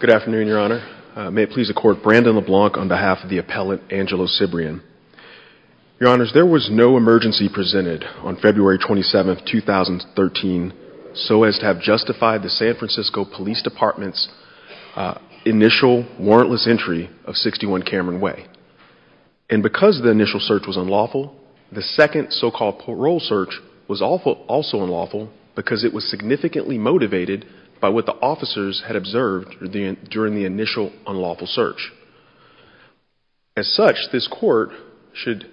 Good afternoon, Your Honor. May it please the Court, Brandon LeBlanc on behalf of the appellant Angelo Cibrian. Your Honors, there was no emergency presented on February 27, 2013 so as to have justified the San Francisco Police Department's initial warrantless entry of 61 Cameron Way. And because the initial search was unlawful, the second so-called parole search was also unlawful because it was significantly motivated by what the officers had observed during the initial unlawful search. As such, this Court should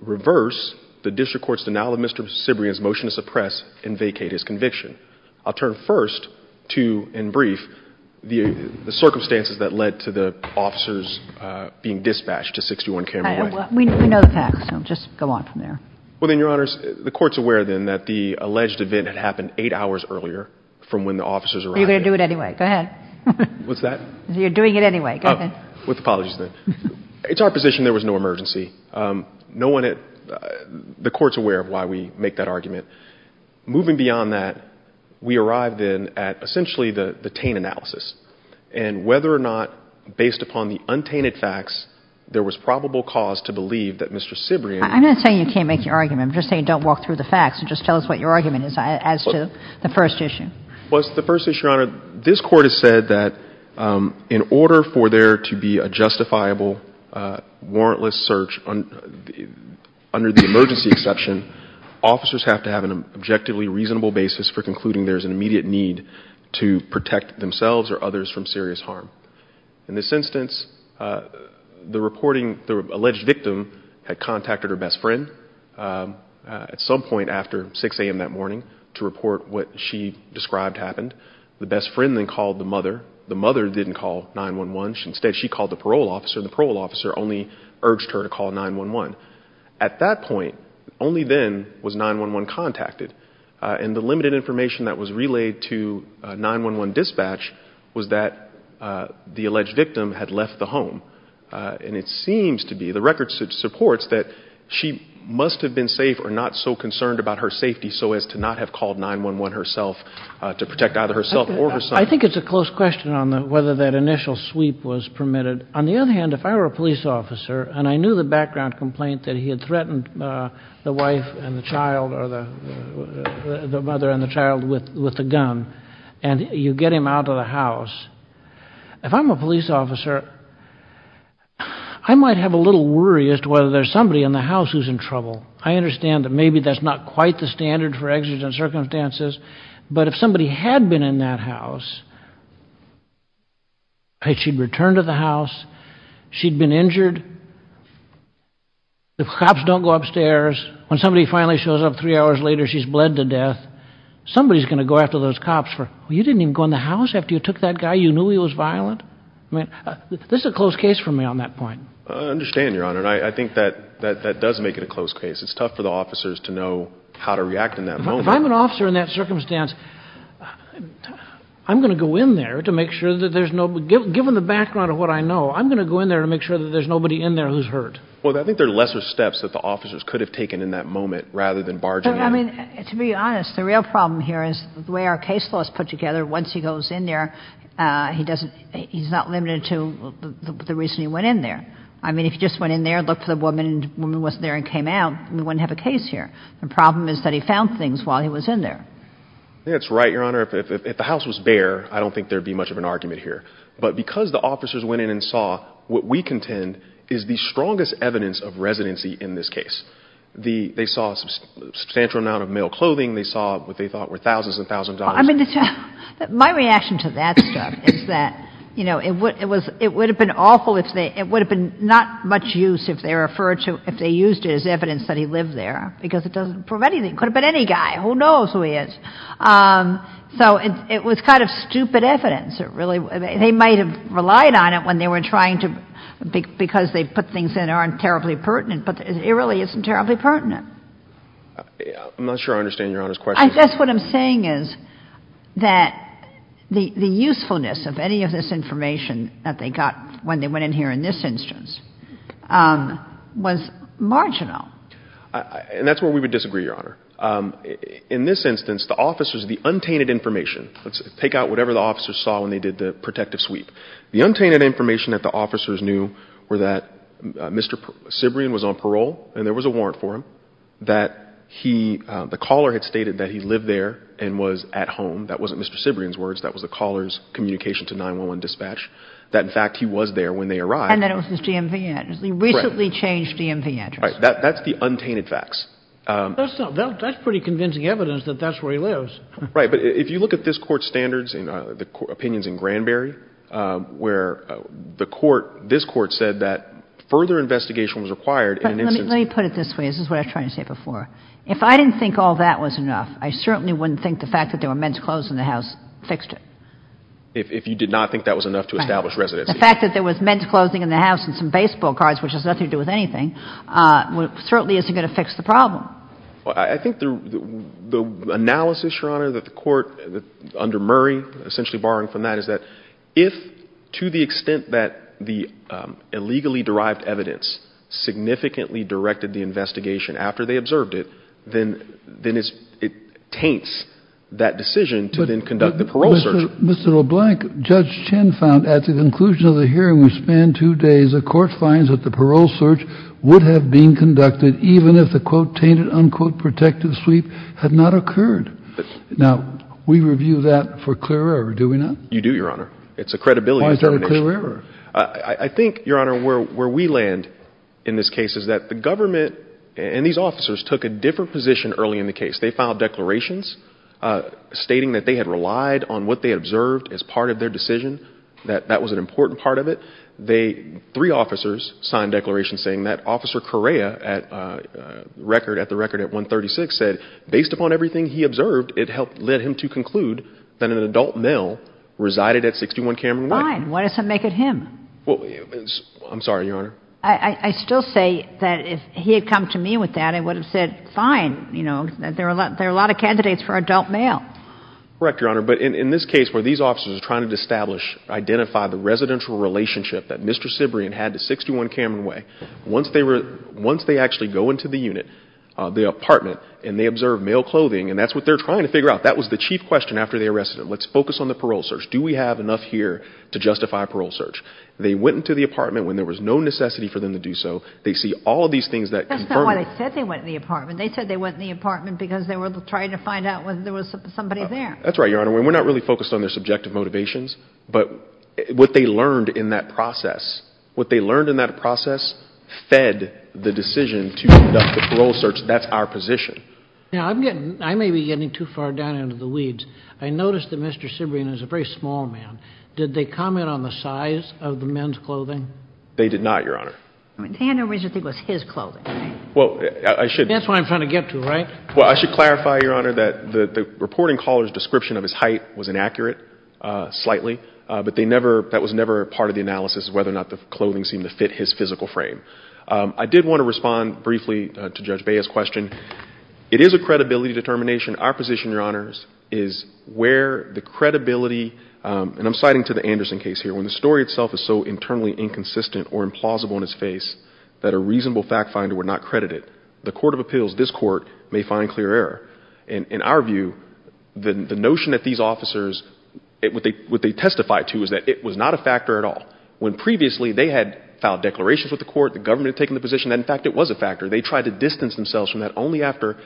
reverse the District Court's denial of Mr. Cibrian's motion to suppress and vacate his conviction. I'll turn first to, in brief, the circumstances that led to the officers being dispatched to 61 Cameron Way. We know the facts, so just go on from there. Well then, Your Honor, it's our position there was no emergency. The Court's aware of why we make that argument. Moving beyond that, we arrived then at essentially the taint analysis and whether or not, based upon the untainted facts, there was probable cause to believe that Mr. Cibrian... I'm not saying you can't make your argument. I'm just saying don't walk through the facts and just tell us what your argument is as to the first issue. Well, the first issue, Your Honor, this Court has said that in order for there to be a justifiable warrantless search under the emergency exception, officers have to have an objectively reasonable basis for concluding there's an immediate need to protect themselves or others from serious harm. In this instance, the reporting, the alleged victim had contacted her best friend at some point after 6 a.m. that morning to report what she described happened. The best friend then called the mother. The mother didn't call 911. Instead, she called the parole officer. The parole officer only urged her to call 911. At that point, only then was 911 contacted. And the limited information that was relayed to 911 dispatch was that the alleged victim had left the home. And it must have been safe or not so concerned about her safety so as to not have called 911 herself to protect either herself or her son. I think it's a close question on whether that initial sweep was permitted. On the other hand, if I were a police officer and I knew the background complaint that he had threatened the wife and the child or the mother and the child with the gun and you get him out of the house, if I'm a police officer, I might have a somebody in the house who's in trouble. I understand that maybe that's not quite the standard for exigent circumstances, but if somebody had been in that house, she'd return to the house, she'd been injured, the cops don't go upstairs. When somebody finally shows up three hours later, she's bled to death. Somebody's going to go after those cops for, you didn't even go in the house after you took that guy? You knew he was violent? I mean, this is a close case for me on that that does make it a close case. It's tough for the officers to know how to react in that moment. If I'm an officer in that circumstance, I'm gonna go in there to make sure that there's nobody, given the background of what I know, I'm gonna go in there to make sure that there's nobody in there who's hurt. Well, I think they're lesser steps that the officers could have taken in that moment rather than barging in. I mean, to be honest, the real problem here is the way our case laws put together, once he goes in there, he's not limited to the reason he went in there. I mean, if he just went in there, looked for the woman and the woman wasn't there and came out, we wouldn't have a case here. The problem is that he found things while he was in there. That's right, Your Honor. If the house was bare, I don't think there'd be much of an argument here. But because the officers went in and saw what we contend is the strongest evidence of residency in this case. They saw a substantial amount of male clothing. They saw what they thought were thousands and thousands of dollars. I mean, my reaction to that stuff is that, you know, it would have been awful if they, it would have been not much use if they referred to, if they used it as evidence that he lived there, because it doesn't prove anything. It could have been any guy. Who knows who he is? So it was kind of stupid evidence. It really, they might have relied on it when they were trying to, because they put things in there that aren't terribly pertinent, but it really isn't terribly pertinent. I'm not sure I understand Your Honor's question. I guess what I'm saying is that the usefulness of any of this information that they got when they went in here in this instance was marginal. And that's where we would disagree, Your Honor. In this instance, the officers, the untainted information, let's take out whatever the officers saw when they did the protective sweep. The untainted information that the officers knew were that Mr. Cibrian was on parole and there was a warrant for him, that he, the caller had stated that he lived there and was at home. That wasn't Mr. Cibrian's words. That was the caller's when they arrived. And that it was his DMV address. He recently changed DMV address. Right. That's the untainted facts. That's pretty convincing evidence that that's where he lives. Right. But if you look at this Court's standards, the opinions in Granberry, where the Court, this Court said that further investigation was required in an instance. Let me put it this way. This is what I was trying to say before. If I didn't think all that was enough, I certainly wouldn't think the fact that there were men's clothes in the house fixed it. If you did not think that was enough to establish residency. The fact that there was men's clothing in the house and some baseball cards, which has nothing to do with anything, certainly isn't going to fix the problem. I think the analysis, Your Honor, that the Court, under Murray, essentially borrowing from that, is that if, to the extent that the illegally derived evidence significantly directed the investigation after they observed it, then it taints that decision to then conduct the parole search. Mr. LeBlanc, Judge Chin found at the conclusion of the hearing, which spanned two days, the Court finds that the parole search would have been conducted even if the, quote, tainted, unquote, protective sweep had not occurred. Now, we review that for clear error, do we not? You do, Your Honor. It's a credibility determination. Why is that a clear error? I think, Your Honor, where we land in this case is that the government and these officers took a different position early in the case. They filed declarations stating that they had relied on what they observed as part of their decision, that that was an important part of it. They, three officers, signed declarations saying that Officer Correa, at the record at 136, said, based upon everything he observed, it led him to conclude that an adult male resided at 61 Cameron Way. Fine. What does that make of him? Well, I'm sorry, Your Honor. I still say that if he had come to me with that, I would have said, fine, you know, there are a lot of candidates for adult male. Correct, Your Honor, but in this case where these officers are trying to establish, identify the residential relationship that Mr. Cibrian had to 61 Cameron Way, once they actually go into the unit, the apartment, and they observe male clothing, and that's what they're trying to figure out. That was the chief question after they arrested him. Let's focus on the parole search. Do we have enough here to justify a parole search? They went into the apartment when there was no necessity for them to do so. They see all of these things that confirm. That's not why they said they went in the apartment. They said they went in the apartment because they were trying to find out whether there was somebody there. That's right, Your Honor. We're not really focused on their subjective motivations, but what they learned in that process, what they learned in that process fed the decision to conduct the parole search. That's our position. Now, I'm getting, I may be getting too far down into the weeds. I noticed that Mr. Cibrian is a very small man. Did they comment on the size of the men's clothing? They did not, Your Honor. They had no reason to think it was his clothing. Well, I should- That's what I'm trying to get to, right? Well, I should clarify, Your Honor, that the reporting caller's description of his height was inaccurate slightly, but that was never part of the analysis of whether or not the clothing seemed to fit his physical frame. I did want to respond briefly to Judge Bea's question. It is a credibility determination. Our position, Your Honors, is where the credibility, and I'm citing to the Anderson case here, when the story itself is so internally inconsistent or implausible in its face that a reasonable fact finder would not credit it, the court of appeals, this court, may find clear error. In our view, the notion that these officers, what they testify to is that it was not a factor at all. When previously they had filed declarations with the court, the government had taken the position that, in fact, it was a factor. They tried to distance themselves from that only after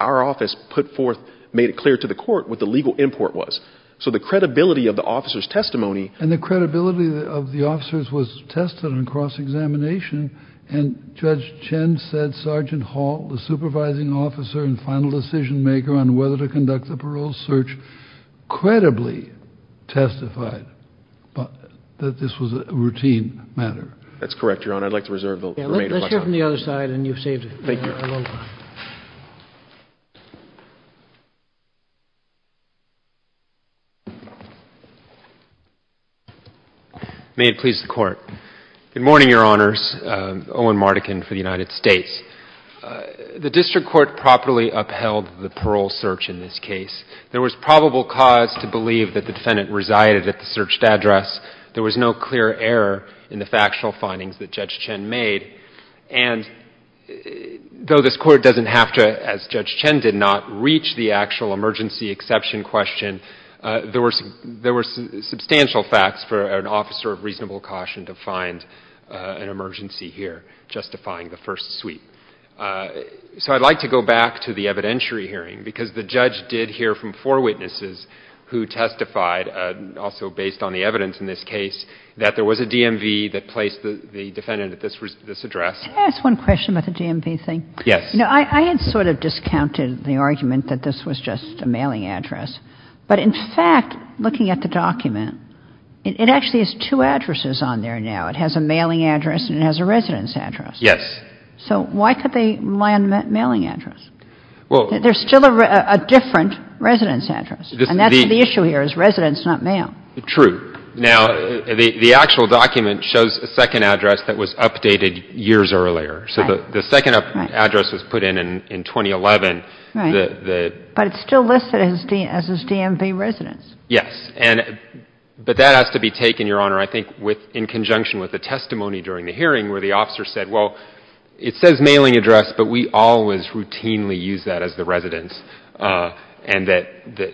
our office put forth, made it clear to the court what the legal import was. So the credibility of the officers' testimony- And the credibility of the officers was tested on cross-examination, and Judge Chen said Sergeant Hall, the supervising officer and final decision maker on whether to conduct the parole search, credibly testified that this was a routine matter. That's correct, Your Honor. I'd like to reserve the remainder of my time. Take care from the other side, and you've saved a lot of time. Thank you. May it please the Court. Good morning, Your Honors. Owen Mardekin for the United States. The district court properly upheld the parole search in this case. There was probable cause to believe that the defendant resided at the searched address. There was no clear error in the factual findings that Judge Chen made. And though this Court doesn't have to, as Judge Chen did not, reach the actual emergency exception question, there were substantial facts for an officer of reasonable caution to find an emergency here justifying the first sweep. So I'd like to go back to the evidentiary hearing, because the judge did hear from four witnesses who testified, also based on the evidence in this case, that there was a DMV that placed the defendant at this address. Can I ask one question about the DMV thing? Yes. You know, I had sort of discounted the argument that this was just a mailing address. But in fact, looking at the document, it actually has two addresses on there now. It has a mailing address and it has a residence address. Yes. So why could they rely on a mailing address? There's still a different residence address. And that's the issue here, is residence, not mail. True. Now, the actual document shows a second address that was updated years earlier. So the second address was put in in 2011. Right. But it's still listed as his DMV residence. Yes. But that has to be taken, Your Honor, I think, in conjunction with the testimony during the hearing where the officer said, well, it says mailing address, but we always routinely use that as the residence, and that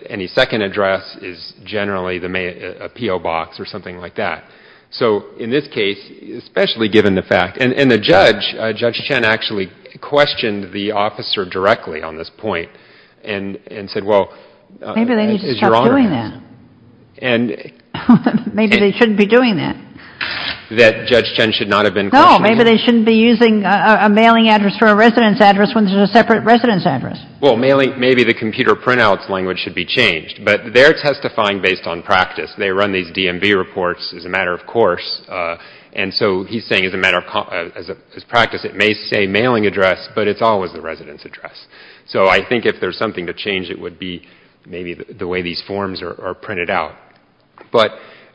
any second address is generally a PO box or something like that. So in this case, especially given the fact — and the judge, Judge Chen, actually questioned the officer directly on this point and said, well — Maybe they shouldn't be doing that. — that Judge Chen should not have been questioning — No, maybe they shouldn't be using a mailing address for a residence address when there's a separate residence address. Well, maybe the computer printout's language should be changed. But they're testifying based on practice. They run these DMV reports as a matter of course. And so he's saying as a matter of practice, it may say mailing address, but it's always the residence address. So I think if there's something to change, it would be maybe the way these forms are printed out. But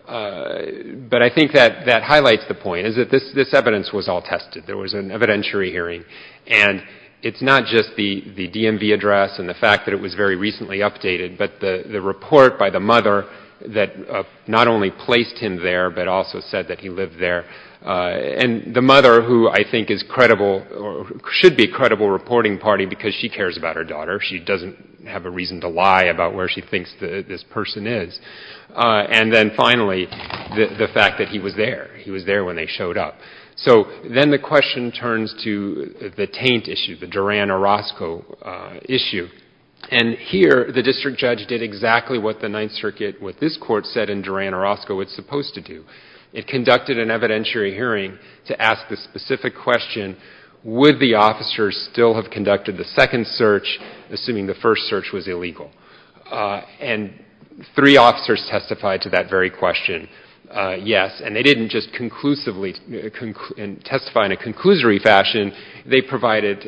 I think that highlights the point, is that this evidence was all tested. There was an evidentiary hearing. And it's not just the DMV address and the fact that it was very recently updated, but the report by the mother that not only placed him there, but also said that he lived there. And the mother, who I think is credible or should be a credible reporting party because she cares about her daughter. She doesn't have a reason to lie about where she thinks this person is. And then finally, the fact that he was there. He was there when they showed up. So then the question turns to the taint issue, the Duran-Orozco issue. And here, the district judge did exactly what the Ninth Circuit, what this Court said in Duran-Orozco, it's supposed to do. It conducted an evidentiary hearing to ask the specific question, would the officers still have conducted the second search, assuming the first search was illegal? And three officers testified to that very question, yes. And they didn't just conclusively testify in a conclusory fashion. They provided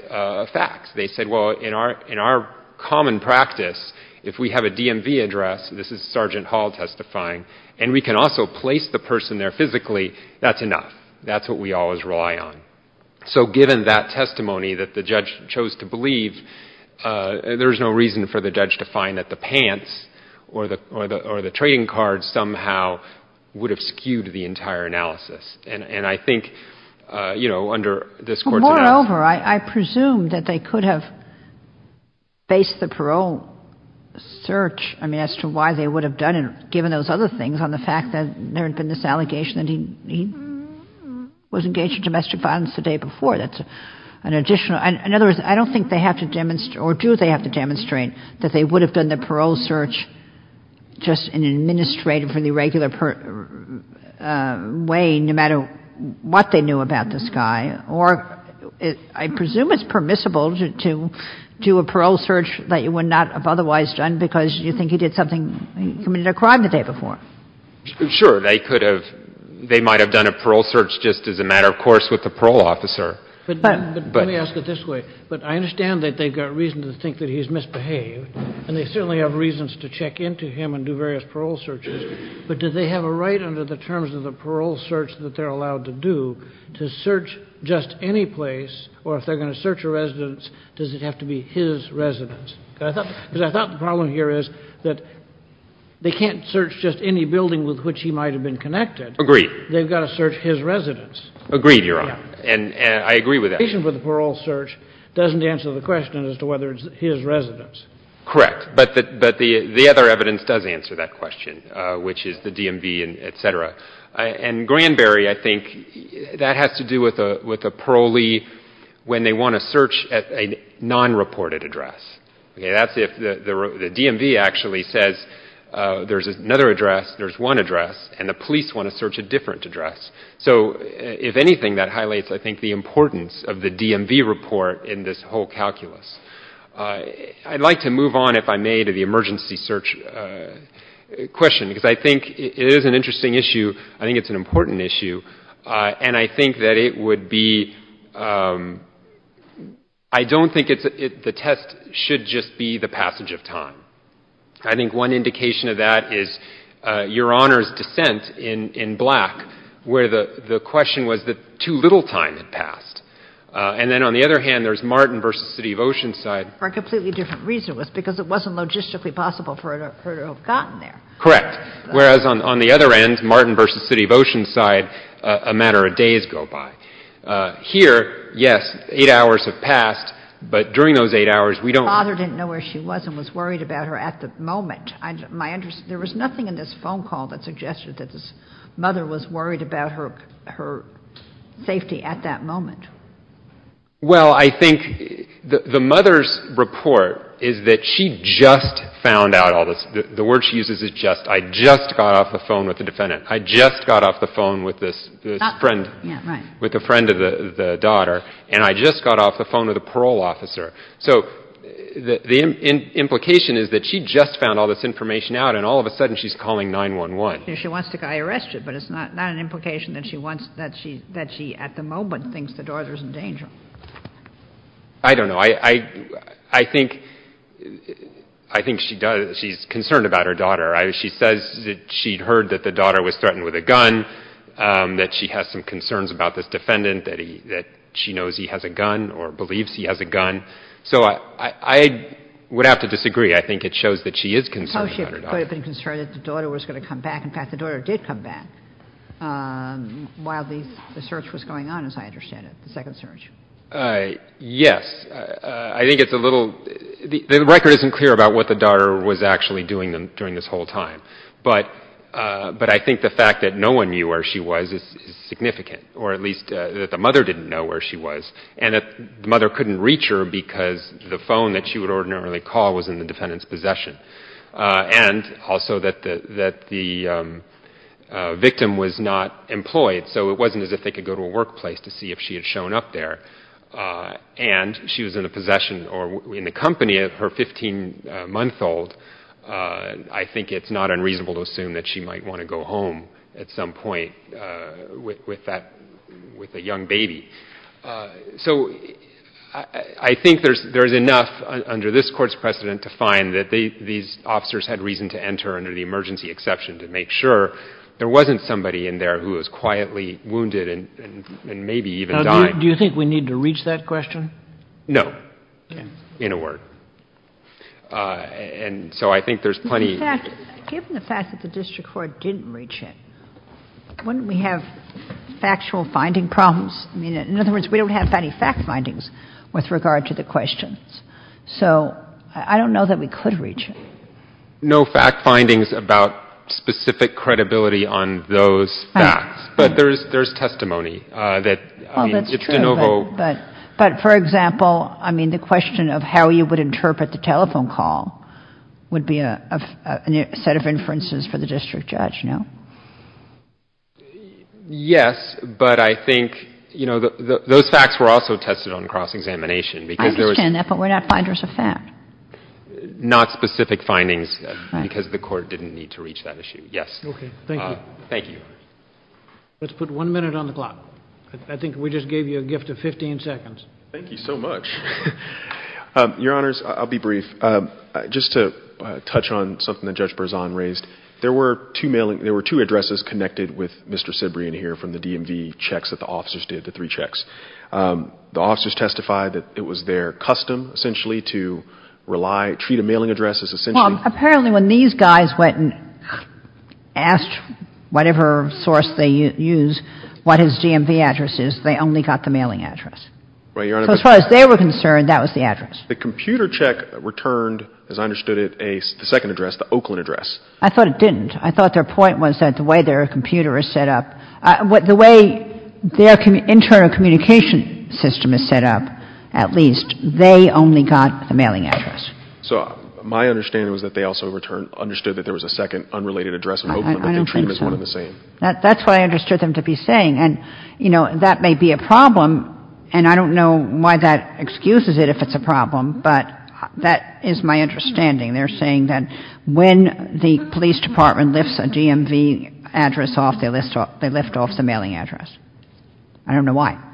facts. They said, well, in our common practice, if we have a DMV address, this is Sergeant Hall testifying, and we can also place the person there physically, that's enough. That's what we always rely on. So given that testimony that the judge chose to believe, there's no reason for the judge to find that the pants or the trading card somehow would have skewed the entire analysis. And I think, you know, under this Court's analysis — However, I presume that they could have based the parole search, I mean, as to why they would have done it, given those other things on the fact that there had been this allegation that he was engaged in domestic violence the day before. That's an additional — in other words, I don't think they have to demonstrate, or do they have to demonstrate, that they would have done the parole search just in an administrative or the regular way, no matter what they knew about this guy. Or I presume it's permissible to do a parole search that you would not have otherwise done because you think he did something — he committed a crime the day before. Sure. They could have — they might have done a parole search just as a matter of course with the parole officer. But let me ask it this way. But I understand that they've got reason to think that he's misbehaved, and they certainly have reasons to check into him and do various parole searches. But do they have a right under the terms of the parole search that they're allowed to do to search just any place? Or if they're going to search a residence, does it have to be his residence? Because I thought the problem here is that they can't search just any building with which he might have been connected. Agreed. Agreed, Your Honor. And I agree with that. The reason for the parole search doesn't answer the question as to whether it's his residence. Correct. But the other evidence does answer that question, which is the DMV, et cetera. And Granberry, I think, that has to do with a parolee when they want to search a non-reported address. That's if the DMV actually says there's another address, there's one address, and the police want to search a different address. So if anything, that highlights, I think, the importance of the DMV report in this whole calculus. I'd like to move on, if I may, to the emergency search question, because I think it is an interesting issue. I think it's an important issue. And I think that it would be — I don't think the test should just be the passage of time. I think one indication of that is Your Honor's dissent in Black, where the question was that too little time had passed. And then on the other hand, there's Martin v. City of Oceanside. For a completely different reason. It was because it wasn't logistically possible for it to have gotten there. Correct. Whereas on the other end, Martin v. City of Oceanside, a matter of days go by. Here, yes, eight hours have passed, but during those eight hours, we don't — I don't think she was and was worried about her at the moment. There was nothing in this phone call that suggested that this mother was worried about her safety at that moment. Well, I think the mother's report is that she just found out all this. The word she uses is just. I just got off the phone with the defendant. I just got off the phone with this friend. Yeah, right. With a friend of the daughter. And I just got off the phone with a parole officer. So the implication is that she just found all this information out, and all of a sudden she's calling 911. She wants the guy arrested, but it's not an implication that she wants — that she, at the moment, thinks the daughter's in danger. I don't know. I think she's concerned about her daughter. She says that she heard that the daughter was threatened with a gun, that she has some concerns about this defendant, that she knows he has a gun or believes he has a gun. So I would have to disagree. I think it shows that she is concerned about her daughter. No, she could have been concerned that the daughter was going to come back. In fact, the daughter did come back while the search was going on, as I understand it, the second search. Yes. I think it's a little — the record isn't clear about what the daughter was actually doing during this whole time. But I think the fact that no one knew where she was is significant, or at least that the mother didn't know where she was, and that the mother couldn't reach her because the phone that she would ordinarily call was in the defendant's possession, and also that the victim was not employed, so it wasn't as if they could go to a workplace to see if she had shown up there, and she was in the possession or in the company of her 15-month-old. I think it's not unreasonable to assume that she might want to go home at some point with that — with a young baby. So I think there's enough under this Court's precedent to find that these officers had reason to enter under the emergency exception to make sure there wasn't somebody in there who was quietly wounded and maybe even dying. Now, do you think we need to reach that question? No, in a word. And so I think there's plenty — Given the fact that the district court didn't reach it, wouldn't we have factual finding problems? I mean, in other words, we don't have any fact findings with regard to the questions. So I don't know that we could reach it. No fact findings about specific credibility on those facts. Right. But there's testimony that, I mean, if DeNovo — would be a set of inferences for the district judge, no? Yes, but I think, you know, those facts were also tested on cross-examination because there was — I understand that, but we're not finders of fact. Not specific findings because the Court didn't need to reach that issue. Yes. Okay, thank you. Thank you. Let's put one minute on the clock. I think we just gave you a gift of 15 seconds. Thank you so much. Your Honors, I'll be brief. Just to touch on something that Judge Berzon raised. There were two mailing — there were two addresses connected with Mr. Sibrian here from the DMV checks that the officers did, the three checks. The officers testified that it was their custom, essentially, to rely — treat a mailing address as essentially — Well, apparently when these guys went and asked whatever source they use what his DMV address is, they only got the mailing address. Right, Your Honor. So as far as they were concerned, that was the address. The computer check returned, as I understood it, a second address, the Oakland address. I thought it didn't. I thought their point was that the way their computer is set up — the way their internal communication system is set up, at least, they only got the mailing address. So my understanding was that they also returned — understood that there was a second unrelated address in Oakland. I don't think so. But they treat them as one and the same. That's what I understood them to be saying. And, you know, that may be a problem, and I don't know why that excuses it if it's a problem, but that is my understanding. They're saying that when the police department lifts a DMV address off, they lift off the mailing address. I don't know why.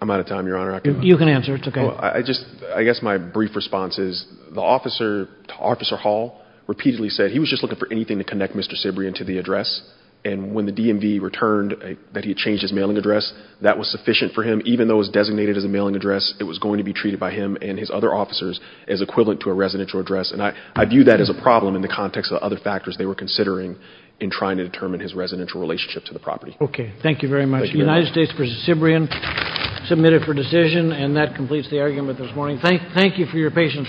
I'm out of time, Your Honor. You can answer. It's okay. I just — I guess my brief response is the officer — Officer Hall repeatedly said he was just looking for anything to connect Mr. Sibrian to the address. And when the DMV returned that he had changed his mailing address, that was sufficient for him. Even though it was designated as a mailing address, it was going to be treated by him and his other officers as equivalent to a residential address. And I view that as a problem in the context of other factors they were considering in trying to determine his residential relationship to the property. Okay. Thank you very much. Thank you, Your Honor. United States v. Sibrian, submitted for decision. And that completes the argument this morning. Thank you for your patience.